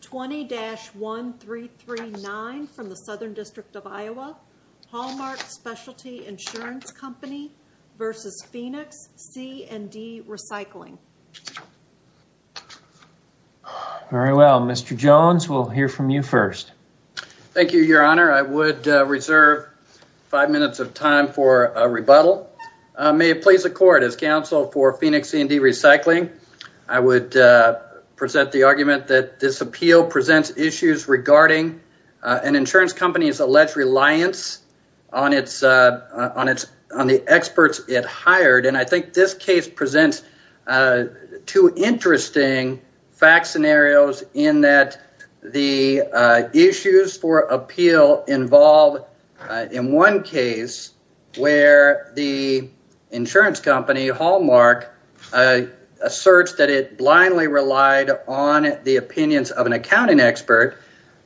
20-1339 from the Southern District of Iowa, Hallmark Specialty Insurance Company v. Phoenix C & D Recycling. Very well. Mr. Jones, we'll hear from you first. Thank you, Your Honor. I would reserve five minutes of time for a rebuttal. May it please the Court, as counsel for Phoenix C & D Appeal presents issues regarding an insurance company's alleged reliance on the experts it hired. And I think this case presents two interesting fact scenarios in that the issues for appeal involve, in one case, where the insurance company, Hallmark, asserts that it an accounting expert,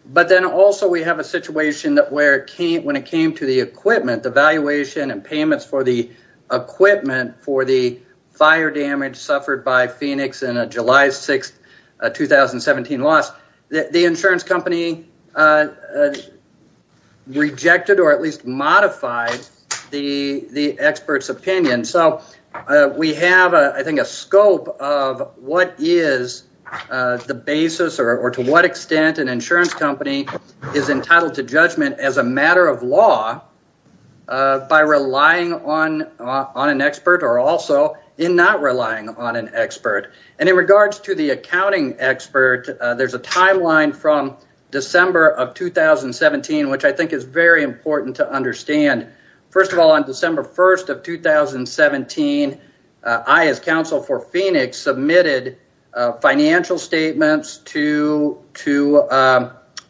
but then also we have a situation where when it came to the equipment, the valuation and payments for the equipment for the fire damage suffered by Phoenix in a July 6, 2017 loss, the insurance company rejected or at least modified the expert's opinion. So we have, I think, a scope of what is the basis or to what extent an insurance company is entitled to judgment as a matter of law by relying on an expert or also in not relying on an expert. And in regards to the accounting expert, there's a timeline from December of 2017, which I think is very important to understand. First of all, on December 1 of 2017, I as counsel for Phoenix submitted financial statements to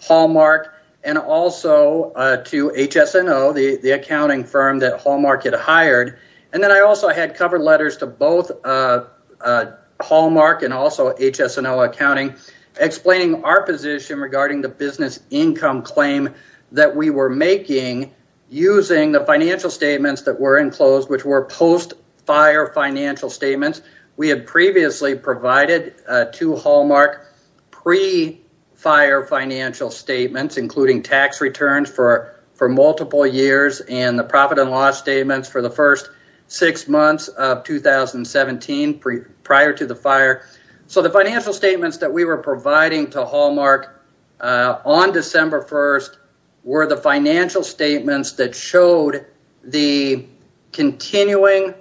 Hallmark and also to HSNO, the accounting firm that Hallmark had hired. And then I also had cover letters to both Hallmark and also HSNO accounting explaining our position regarding the business income claim that we were making using the financial statements that were enclosed, which were post-fire financial statements. We had previously provided to Hallmark pre-fire financial statements, including tax returns for multiple years and the profit and loss statements for the first six months of 2017 prior to the fire. So the financial statements that we were providing to were the financial statements that showed the continuing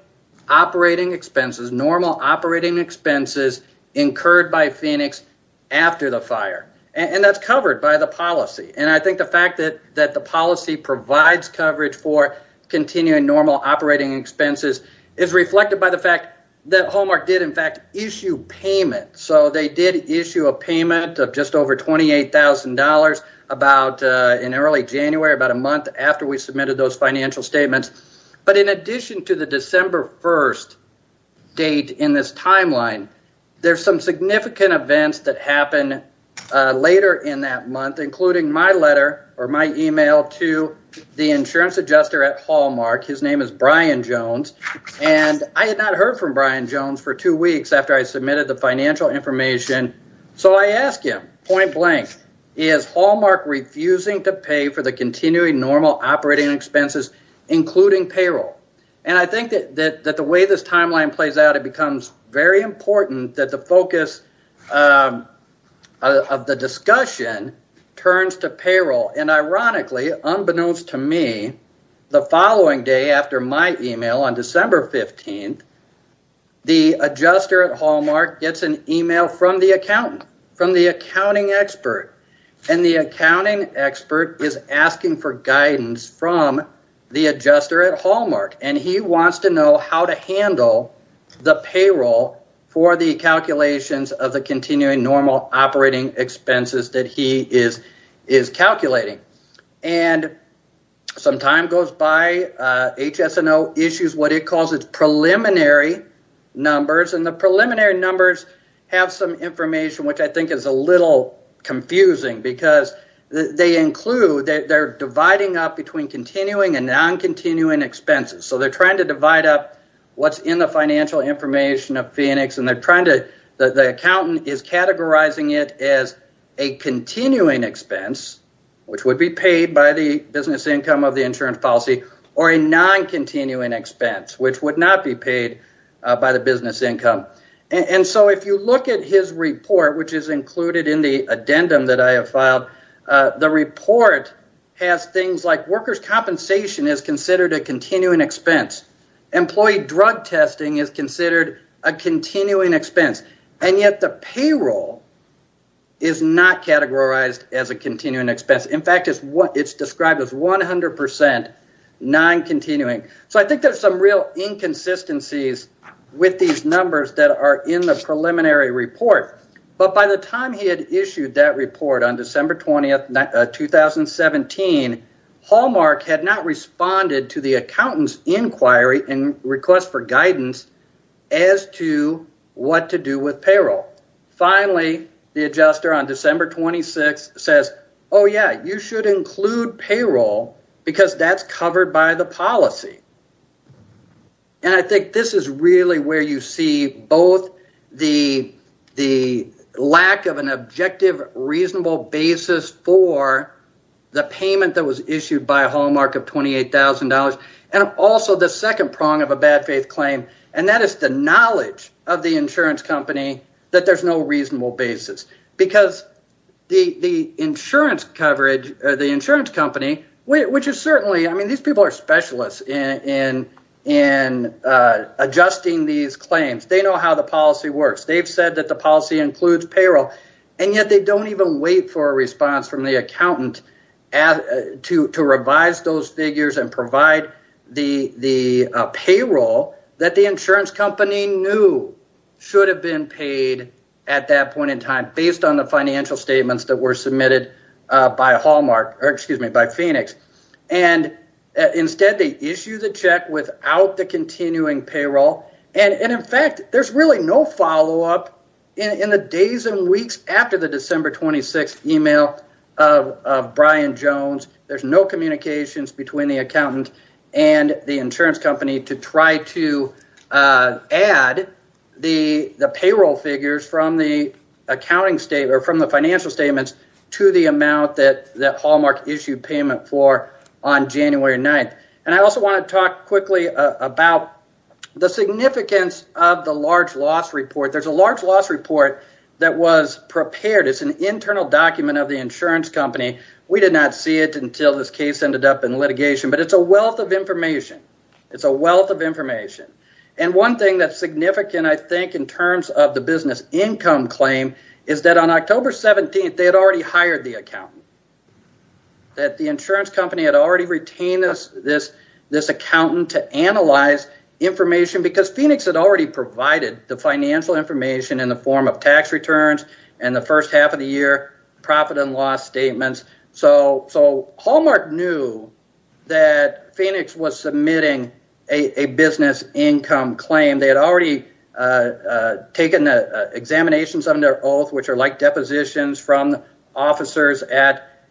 operating expenses, normal operating expenses incurred by Phoenix after the fire. And that's covered by the policy. And I think the fact that the policy provides coverage for continuing normal operating expenses is reflected by the fact that Hallmark did, in fact, issue payment. So they did issue a payment of just over $28,000 about in early January, about a month after we submitted those financial statements. But in addition to the December 1 date in this timeline, there's some significant events that happened later in that month, including my letter or my email to the insurance adjuster at Hallmark. His name is Brian Jones. And I had not heard from Brian Jones for two weeks after I point blank, is Hallmark refusing to pay for the continuing normal operating expenses, including payroll? And I think that the way this timeline plays out, it becomes very important that the focus of the discussion turns to payroll. And ironically, unbeknownst to me, the following day after my email on December 15, the adjuster at Hallmark gets an email from the accounting expert. And the accounting expert is asking for guidance from the adjuster at Hallmark. And he wants to know how to handle the payroll for the calculations of the continuing normal operating expenses that he is calculating. And some time goes by, HSNO issues what it calls preliminary numbers. And the preliminary numbers have some information which I think is a little confusing. Because they include, they're dividing up between continuing and non-continuing expenses. So they're trying to divide up what's in the financial information of Phoenix. And they're trying to, the accountant is categorizing it as a continuing expense, which would be paid by the income of the insurance policy, or a non-continuing expense, which would not be paid by the business income. And so if you look at his report, which is included in the addendum that I have filed, the report has things like workers' compensation is considered a continuing expense. Employee drug testing is considered a continuing expense. And yet the payroll is not categorized as a continuing expense. In fact, it's described as 100% non-continuing. So I think there's some real inconsistencies with these numbers that are in the preliminary report. But by the time he had issued that report on December 20th, 2017, Hallmark had not responded to the accountant's inquiry and what to do with payroll. Finally, the adjuster on December 26th says, oh, yeah, you should include payroll because that's covered by the policy. And I think this is really where you see both the lack of an objective, reasonable basis for the payment that was issued by Hallmark of $28,000, and also the second prong of a bad faith claim, and that is the knowledge of the insurance company that there's no reasonable basis. Because the insurance company, which is certainly, I mean, these people are specialists in adjusting these claims. They know how the policy works. They've said that the policy includes payroll. And yet they don't even wait for a response from the accountant to revise those figures and provide the payroll that the insurance company knew should have been paid at that point in time based on the financial statements that were submitted by Hallmark, or excuse me, by Phoenix. And instead, they issue the check without the continuing payroll. And in fact, there's really no follow-up in the days and weeks after the December 26th email of Brian Jones. There's no communications between the accountant and the insurance company to try to add the payroll figures from the accounting statement or from the financial statements to the amount that Hallmark issued payment for on January 9th. And I also want to talk quickly about the significance of the large loss report. There's a large loss report that was prepared. It's an internal document of the insurance company. We did not see it until this case ended up in litigation. But it's a wealth of information. It's a wealth of information. And one thing that's significant, I think, in terms of the business income claim is that on October 17th, they had already hired the accountant. That the insurance company had already retained this accountant to analyze information because Phoenix had already provided the financial information in the form of tax returns in the first half of the year, profit and loss statements. So Hallmark knew that Phoenix was submitting a business income claim. They had already taken examinations of their oath, which are like depositions from officers at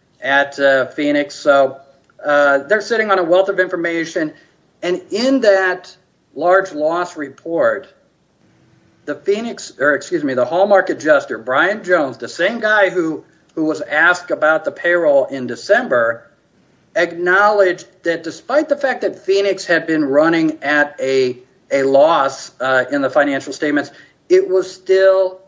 Phoenix. So they're sitting on a wealth of information. And in that large loss report, the Phoenix or excuse me, the Hallmark adjuster, Brian Jones, the same guy who who was asked about the payroll in December, acknowledged that despite the fact that Phoenix had been running at a loss in the financial statements, it was still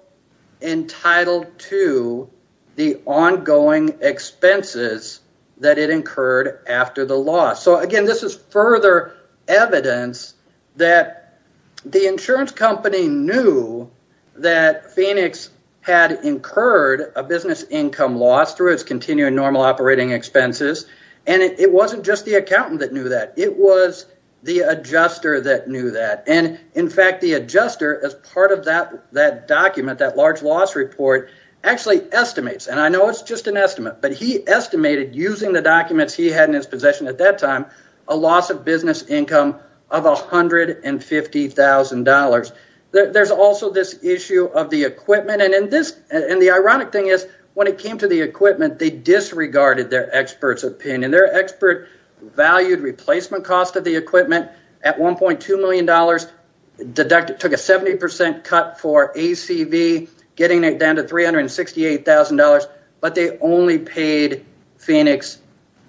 entitled to the ongoing expenses that it incurred after the loss. So again, this is further evidence that the insurance company knew that Phoenix had incurred a business income loss through its continuing normal operating expenses. And it wasn't just the accountant that knew that. It was the adjuster that knew that. And in fact, the adjuster, as part of that document, that large loss report, actually estimates, and I know it's just an estimate, but he estimated using the documents he had in his possession at that time, a loss of business income of $150,000. There's also this issue of the equipment. And the ironic thing is, when it came to the equipment, they disregarded their experts' opinion. Their expert valued replacement cost of the equipment at $1.2 million. It took a 70% cut for ACV, getting it down to $368,000. But they only paid Phoenix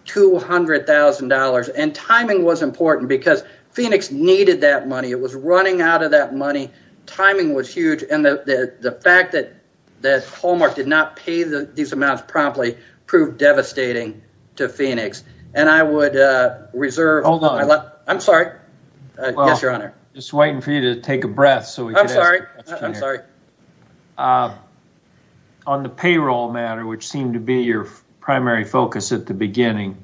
$200,000. And timing was important because Phoenix needed that money. It was running out of that money. Timing was huge. And the fact that Hallmark did not pay these amounts promptly proved devastating to Phoenix. And I would reserve... Hold on. I'm sorry. Yes, Your Honor. Just waiting for you to take a breath. I'm sorry. On the payroll matter, which seemed to be your primary focus at the beginning,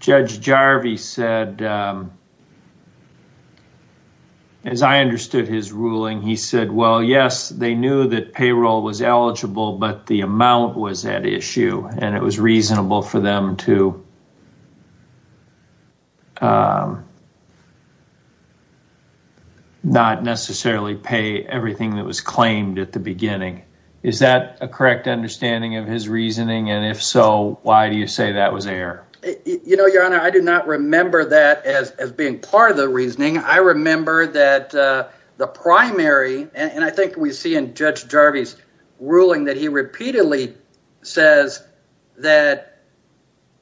Judge Jarvi said, as I understood his ruling, he said, well, yes, they knew that payroll was at issue and it was reasonable for them to not necessarily pay everything that was claimed at the beginning. Is that a correct understanding of his reasoning? And if so, why do you say that was an error? Your Honor, I do not remember that as being part of the reasoning. I remember that the primary, and I think we see in Judge Jarvi's ruling that he repeatedly says that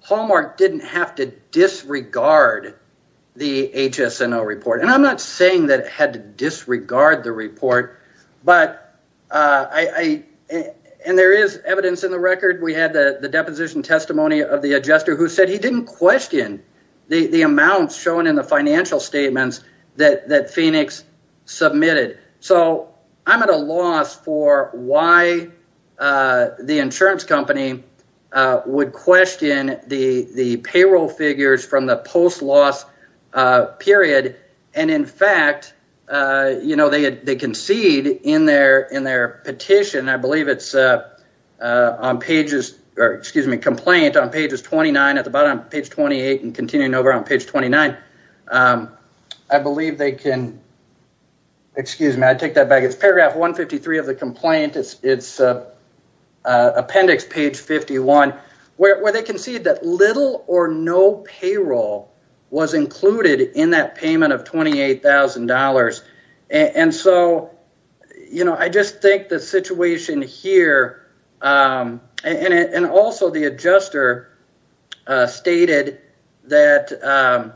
Hallmark didn't have to disregard the HSNO report. And I'm not saying that it had to disregard the report, but I... And there is evidence in the record. We had the deposition testimony of the adjuster who said he didn't question the amounts shown in the financial statements that Phoenix submitted. So I'm at a loss for why the insurance company would question the payroll figures from the post-loss period. And in fact, you know, they concede in their petition. I believe it's on pages, excuse me, complaint on pages 29 at the bottom, page 28 and continuing over on page 29. I believe they can, excuse me, I take that back. It's paragraph 153 of the complaint. It's appendix page 51 where they concede that little or no payroll was included in that payment of $28,000. And so, you know, I just think the situation here and also the adjuster stated that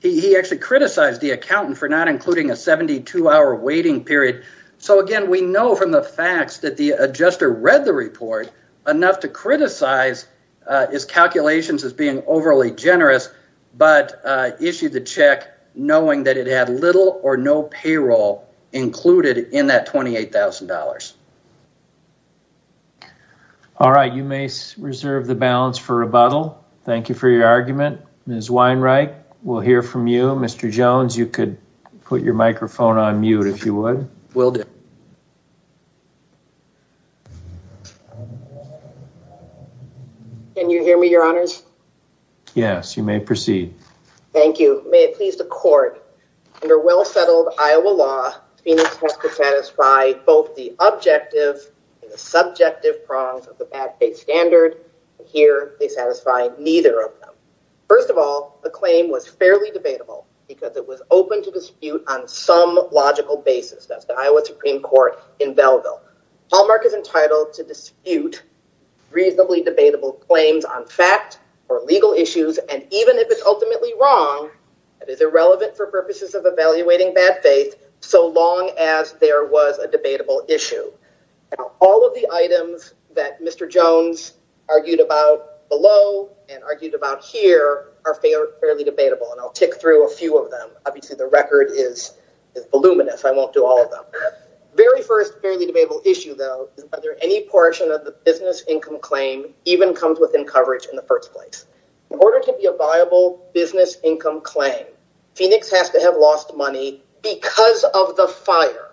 he actually criticized the accountant for not including a 72-hour waiting period. So again, we know from the facts that the adjuster read the report enough to criticize his little or no payroll included in that $28,000. All right. You may reserve the balance for rebuttal. Thank you for your argument. Ms. Weinreich, we'll hear from you. Mr. Jones, you could put your microphone on mute if you would. Will do. Can you hear me, your honors? Yes. You may proceed. Thank you. May it please the court, under well-settled Iowa law, Phoenix has to satisfy both the objective and the subjective prongs of the bad faith standard. Here they satisfy neither of them. First of all, the claim was fairly debatable because it was open to dispute on some logical basis. That's the Iowa Supreme Court in Belleville. Hallmark is entitled to that is irrelevant for purposes of evaluating bad faith so long as there was a debatable issue. All of the items that Mr. Jones argued about below and argued about here are fairly debatable, and I'll tick through a few of them. Obviously, the record is voluminous. I won't do all of them. Very first fairly debatable issue, though, is whether any portion of the business income claim even comes within coverage in the first place. In order to be a viable business income claim, Phoenix has to have lost money because of the fire.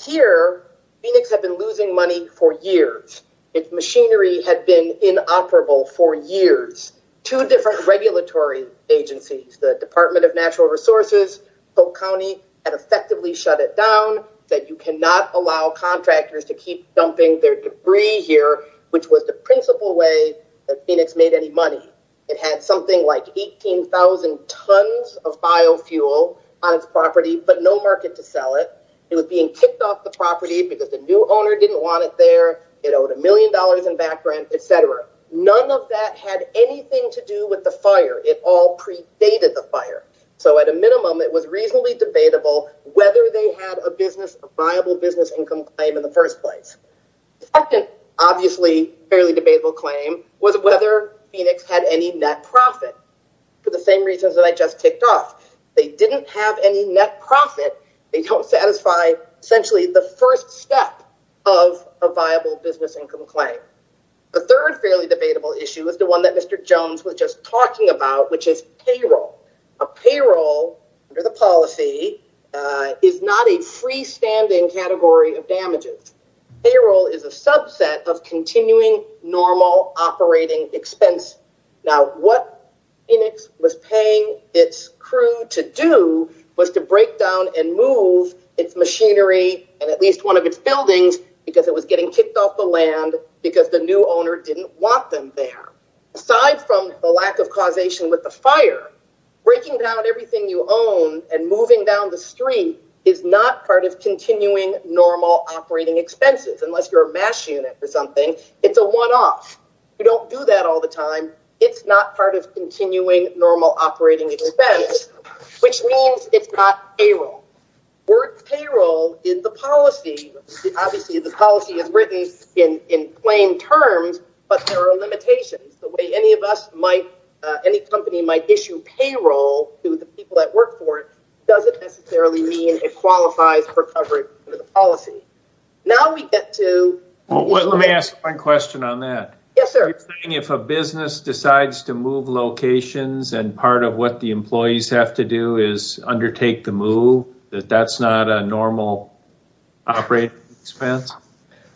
Here, Phoenix had been losing money for years. Its machinery had been inoperable for years. Two different regulatory agencies, the Department of Natural Resources, Polk County, had effectively shut it down, said you cannot allow contractors to keep dumping their debris here, which was the principal way that Phoenix made any money. It had something like 18,000 tons of biofuel on its property, but no market to sell it. It was being kicked off the property because the new owner didn't want it there. It owed a million dollars in back rent, etc. None of that had anything to do with the fire. It all predated the fire. So at a minimum, it was reasonably debatable whether they had a viable business income claim in the first place. The second obviously fairly debatable claim was whether Phoenix had any net profit, for the same reasons that I just kicked off. They didn't have any net profit. They don't satisfy essentially the first step of a viable business income claim. The third fairly debatable issue is the one that Mr. Jones was just talking about, which is payroll. A payroll under the policy is not a freestanding category of damages. Payroll is a subset of continuing normal operating expense. Now what Phoenix was paying its crew to do was to break down and move its machinery and at least one of its buildings because it was getting kicked off the land because the new owner didn't want them there. Aside from the lack of causation with the fire, breaking down everything you own and moving down the street is not part of continuing normal operating expenses, unless you're a mash unit or something. It's a one-off. You don't do that all the time. It's not part of continuing normal operating expense, which means it's not payroll. Word payroll in the policy, obviously the policy is written in plain terms, but there are limitations. The way any company might issue payroll to the people that work for it doesn't necessarily mean it qualifies for coverage under the policy. Now we get to... Let me ask one question on that. Yes, sir. If a business decides to move locations and part of what the employees have to do is undertake the move, that's not a normal operating expense?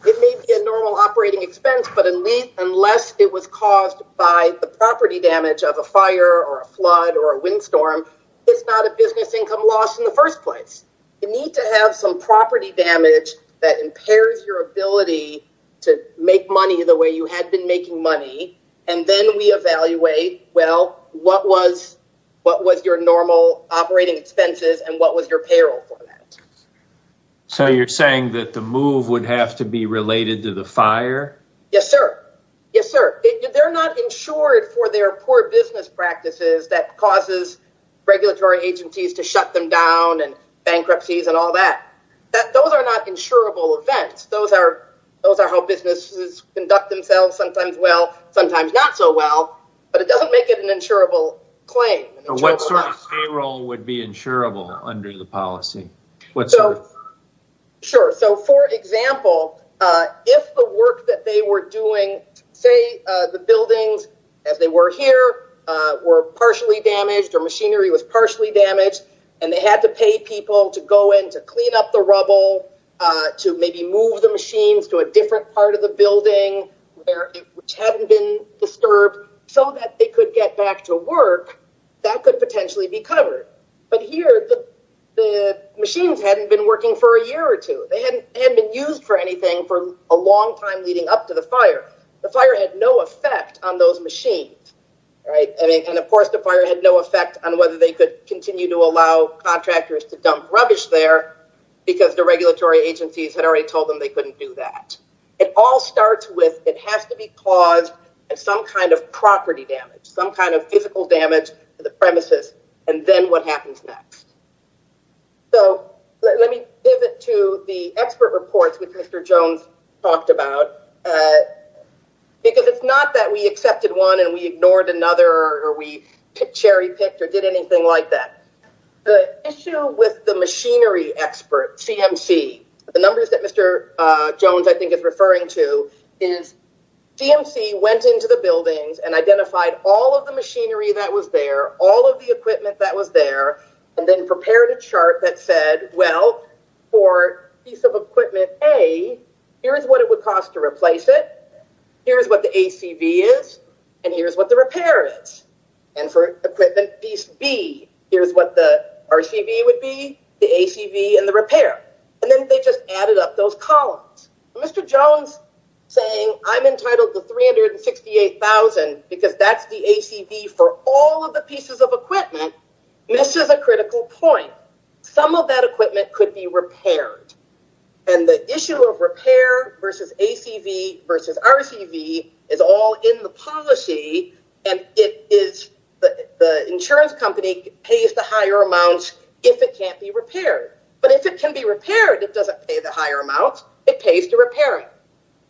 It may be a normal operating expense, but unless it was caused by the property damage of a fire or a flood or a windstorm, it's not a business income loss in the first place. You need to have some property damage that impairs your ability to make money the way you had been making money and then we evaluate, well, what was your normal operating expenses and what was your payroll for that? So you're saying that the move would have to be related to the fire? Yes, sir. Yes, sir. They're not insured for their poor business practices that causes regulatory agencies to shut them down and bankruptcies and all that. Those are not insurable events. Those are how businesses conduct themselves, sometimes well, sometimes not so well, but it doesn't make it an insurable claim. What sort of payroll would be insurable under the policy? Sure. So for example, if the work that they were doing, say the buildings as they were here were partially damaged or machinery was partially damaged and they had to pay people to go in to clean up the rubble, to maybe move the machines to a different part of the building which hadn't been disturbed so that they could get back to work, that could potentially be covered. But here the machines hadn't been working for a year or two. They hadn't been used for anything for a long time leading up to the fire. The fire had no effect on those machines. And of course, the fire had no effect on whether they could continue to allow contractors to dump rubbish there because the regulatory agencies had already told them they couldn't do that. It all starts with it has to be caused some kind of property damage, some kind of physical damage to the premises and then what happens next. So let me pivot to the expert reports which Mr. Jones talked about because it's not that we accepted one and we ignored another or we cherry picked or did anything like that. The issue with the machinery expert, CMC, the numbers that Mr. Jones is referring to, is CMC went into the buildings and identified all of the machinery that was there, all of the equipment that was there, and then prepared a chart that said, well, for piece of equipment A, here's what it would cost to replace it, here's what the ACV is, and here's what the repair is. And for equipment piece B, here's what the RCV would be, the ACV and the repair. And then they just added up those columns. Mr. Jones saying I'm entitled to $368,000 because that's the ACV for all of the pieces of equipment misses a critical point. Some of that equipment could be repaired. And the issue of repair versus ACV versus RCV is all in the policy and it is the insurance company pays the higher amounts if it can't be repaired. But if it can be repaired, it doesn't pay the higher amounts. It pays to repair it.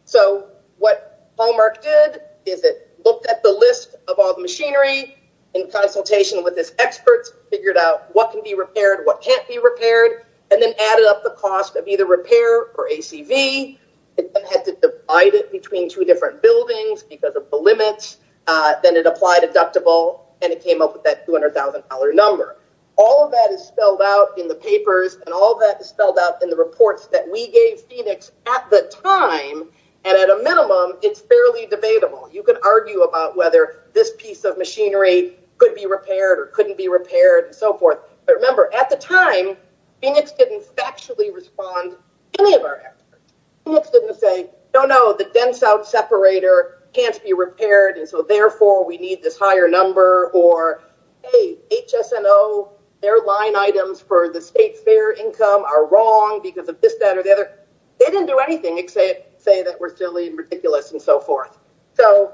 So what Hallmark did is it looked at the list of all the machinery in consultation with his experts, figured out what can be repaired, what can't be repaired, and then added up the cost of either repair or ACV. It then had to divide it between two different buildings because of the limits. Then it applied deductible and it came up with that $200,000 number. All of that is spelled out in the papers and all of that is spelled out in the reports that we gave Phoenix at the time. And at a minimum, it's fairly debatable. You can argue about whether this piece of machinery could be repaired or couldn't be repaired and so forth. But remember, at the time, Phoenix didn't factually respond to any of our experts. Phoenix didn't say, no, no, the dense-out separator can't be repaired and so therefore we need this higher number or, hey, HSNO, their line items for the state's fair income are wrong because of this, that, or the other. They didn't do anything except say that we're silly and ridiculous and so forth. So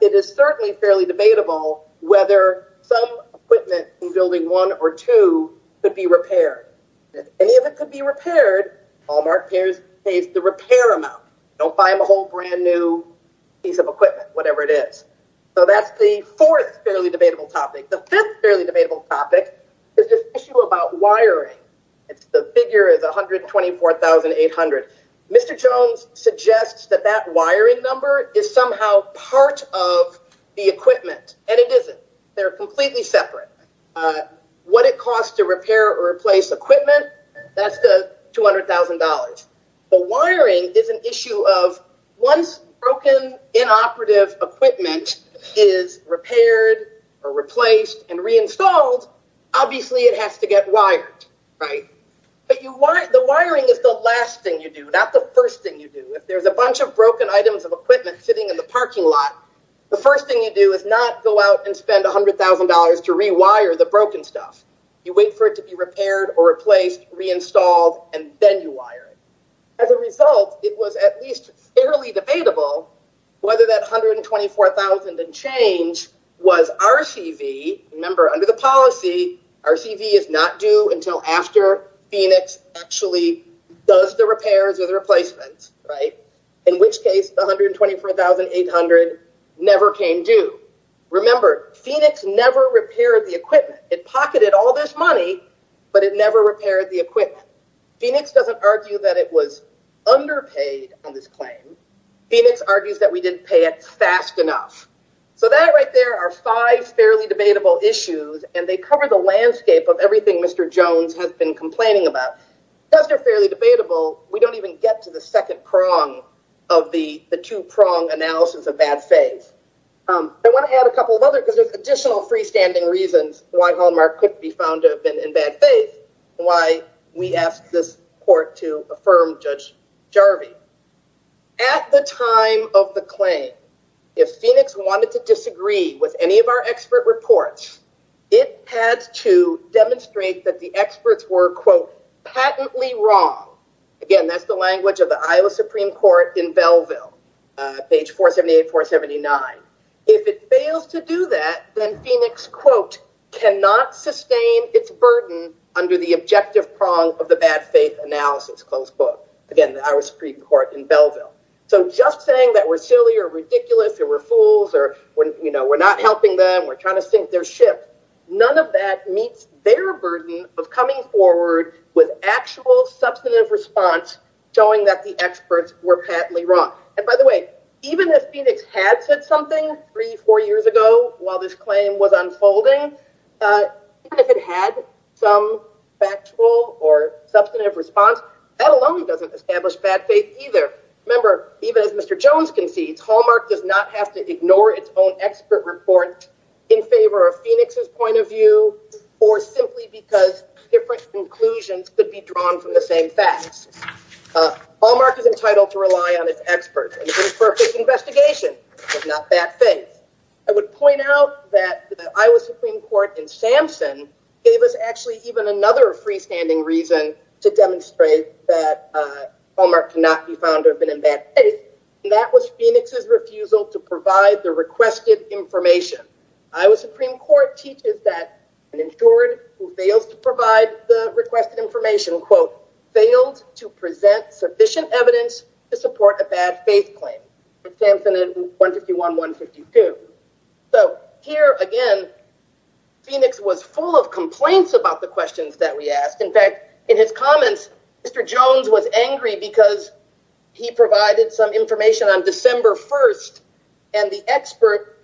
it is certainly fairly debatable whether some equipment in building one or two could be repaired. If any of it could be repaired, Walmart pays the repair amount. Don't buy them a whole brand-new piece of equipment, whatever it is. So that's the fourth fairly debatable topic. The fifth fairly debatable topic is this issue about wiring. The figure is $124,800. Mr. Jones suggests that that wiring number is somehow part of the equipment, and it isn't. They're completely separate. What it costs to repair or replace equipment, that's the $200,000. The wiring is an issue of once broken inoperative equipment is repaired or replaced and reinstalled, obviously it has to get wired, right? But the wiring is the last thing you do, not the first thing you do. If there's a bunch of broken items of equipment sitting in the parking lot, the first thing you do is not go out and spend $100,000 to rewire the broken stuff. You wait for it to be repaired or replaced, reinstalled, and then you wire it. As a result, it was at least fairly debatable whether that $124,000 and change was RCV. Remember, under the policy, RCV is not due until after Phoenix actually does the repairs or the $124,800 never came due. Remember, Phoenix never repaired the equipment. It pocketed all this money, but it never repaired the equipment. Phoenix doesn't argue that it was underpaid on this claim. Phoenix argues that we didn't pay it fast enough. So that right there are five fairly debatable issues, and they cover the landscape of everything Mr. Jones has been complaining about. Because they're fairly debatable, we don't even get to the second prong of the two-prong analysis of bad faith. I want to add a couple of others because there's additional freestanding reasons why Hallmark could be found to have been in bad faith and why we asked this court to affirm Judge Jarvie. At the time of the claim, if Phoenix wanted to disagree with any of our expert reports, it had to demonstrate that the experts were, quote, patently wrong. Again, that's the language of the Iowa Supreme Court in Belleville, page 478-479. If it fails to do that, then Phoenix, quote, cannot sustain its burden under the objective prong of the bad faith analysis, closed book. Again, the Iowa Supreme Court in Belleville. So just saying that we're silly or none of that meets their burden of coming forward with actual substantive response showing that the experts were patently wrong. And by the way, even if Phoenix had said something three, four years ago while this claim was unfolding, even if it had some factual or substantive response, that alone doesn't establish bad faith either. Remember, even as Mr. Jones concedes, Hallmark does not have to ignore its own expert report in favor of Phoenix's point of view or simply because different conclusions could be drawn from the same facts. Hallmark is entitled to rely on its experts for its investigation, but not bad faith. I would point out that the Iowa Supreme Court in Sampson gave us actually even another freestanding reason to demonstrate that Phoenix's refusal to provide the requested information. Iowa Supreme Court teaches that an insured who fails to provide the requested information, quote, failed to present sufficient evidence to support a bad faith claim. Sampson in 151-152. So here, again, Phoenix was full of complaints about the questions that we asked. In fact, in his comments, Mr. Jones was angry because he provided some information on December 1st and the expert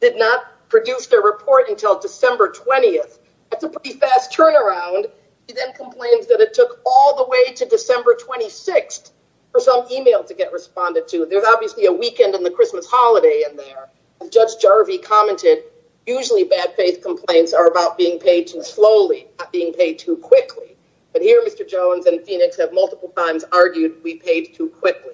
did not produce their report until December 20th. That's a pretty fast turnaround. He then complains that it took all the way to December 26th for some email to get responded to. There's obviously a weekend and the Christmas holiday in there. As Judge Jarvie commented, usually bad faith complaints are about being paid too slowly, not being paid too quickly. But here, Mr. Jones and Phoenix have multiple times argued we paid too quickly.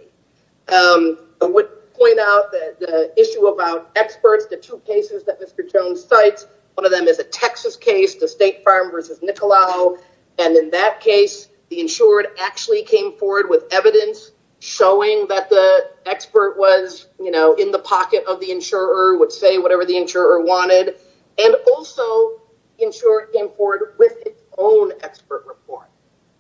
I would point out that the issue about experts, the two cases that Mr. Jones cites, one of them is a Texas case, the State Farm versus Nicolau. And in that case, the insured actually came forward with evidence showing that the expert was in the pocket of the insurer, would say whatever the insurer wanted. And also, the insured came forward with its own expert report.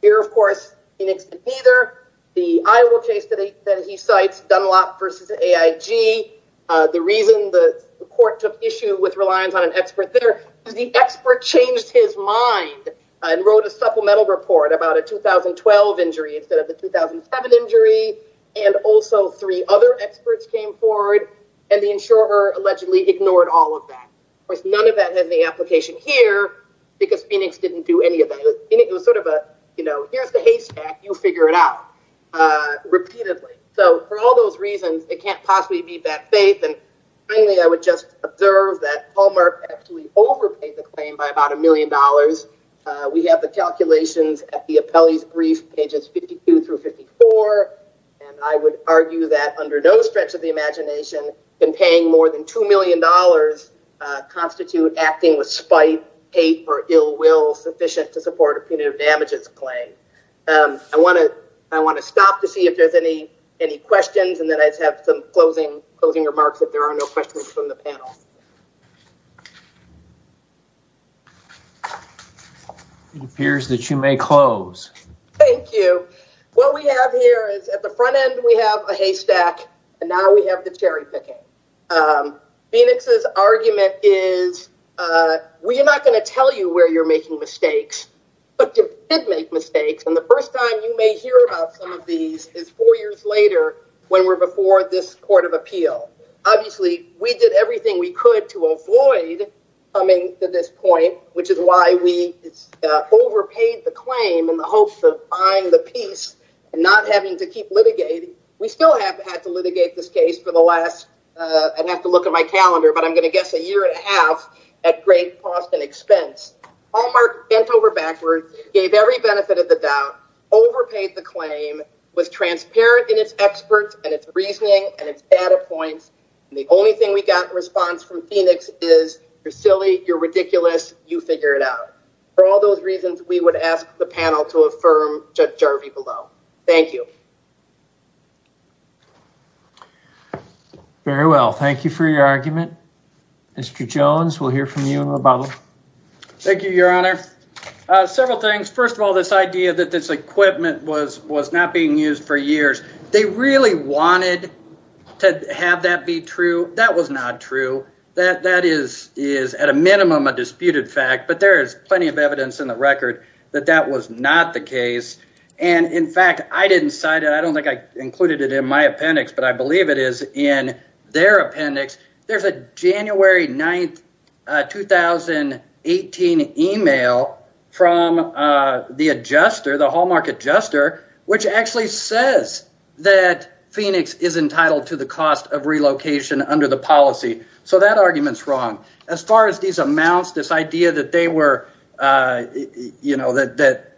Here, of course, Phoenix did neither. The Iowa case that he cites, Dunlop versus AIG, the reason the court took issue with reliance on an expert there is the expert changed his mind and wrote a supplemental report about a 2012 injury instead of the 2007 injury. And also, three other experts came forward and the insurer allegedly ignored all of that. Of course, that has the application here because Phoenix didn't do any of that. It was sort of a, you know, here's the haystack, you figure it out. Repeatedly. So, for all those reasons, it can't possibly be bad faith. And finally, I would just observe that Hallmark actually overpaid the claim by about a million dollars. We have the calculations at the appellee's brief, pages 52 through 54. And I would argue that under no stretch of the imagination, been paying more than $2 acting with spite, hate, or ill will sufficient to support a punitive damages claim. I want to stop to see if there's any questions and then I'd have some closing remarks if there are no questions from the panel. It appears that you may close. Thank you. What we have here is at the front end we have a haystack and now we have the cherry picking. Phoenix's argument is we are not going to tell you where you're making mistakes, but you did make mistakes. And the first time you may hear about some of these is four years later when we're before this court of appeal. Obviously, we did everything we could to avoid coming to this point, which is why we overpaid the claim in the hopes of buying the piece and not having to keep litigating. We still have had to litigate this case for the last, I'd have to look at my calendar, but I'm going to guess a year and a half at great cost and expense. Hallmark bent over backwards, gave every benefit of the doubt, overpaid the claim, was transparent in its experts and its reasoning and its data points. And the only thing we got in response from Phoenix is you're silly, you're ridiculous, you figure it out. For all those reasons, we would ask the panel to affirm Judge Jarvie below. Thank you. Very well. Thank you for your argument. Mr. Jones, we'll hear from you in a moment. Thank you, Your Honor. Several things. First of all, this idea that this equipment was not being used for years. They really wanted to have that be true. That was not true. That is at a minimum a that that was not the case. And in fact, I didn't cite it. I don't think I included it in my appendix, but I believe it is in their appendix. There's a January 9th, 2018 email from the adjuster, the Hallmark adjuster, which actually says that Phoenix is entitled to the cost of relocation under the policy. So that argument's wrong. As far as these amounts, this idea that there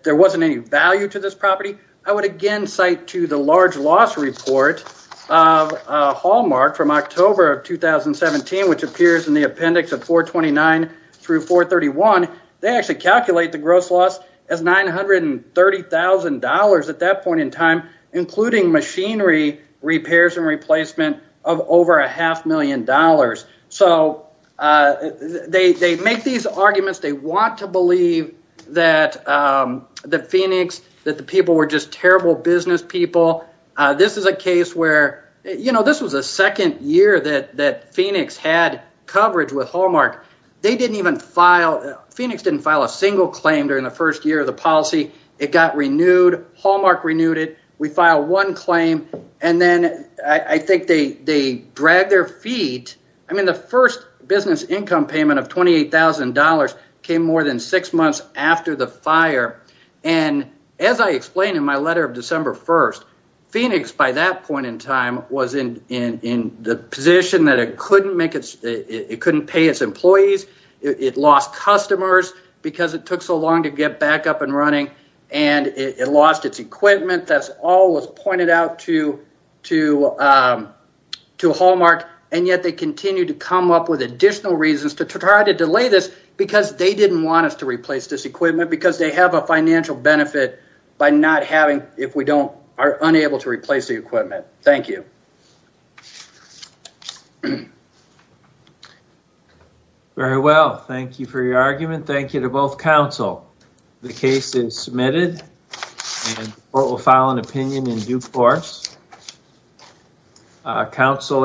wasn't any value to this property, I would again cite to the large loss report of Hallmark from October of 2017, which appears in the appendix of 429 through 431. They actually calculate the gross loss as $930,000 at that point in time, including machinery repairs and want to believe that Phoenix, that the people were just terrible business people. This is a case where, you know, this was the second year that Phoenix had coverage with Hallmark. They didn't even file, Phoenix didn't file a single claim during the first year of the policy. It got renewed. Hallmark renewed it. We filed one claim. And then I think they dragged their feet. I mean, the first business income payment of $28,000 came more than six months after the fire. And as I explained in my letter of December 1st, Phoenix by that point in time was in the position that it couldn't make its, it couldn't pay its employees. It lost customers because it took so long to get back up and running. And it lost its equipment. That's all was pointed out to to Hallmark. And yet they continue to come up with additional reasons to try to delay this because they didn't want us to replace this equipment because they have a financial benefit by not having, if we don't, are unable to replace the equipment. Thank you. Very well. Thank you for your argument. Thank you to both counsel. The case is submitted and the court will file an opinion in due course. Counselor.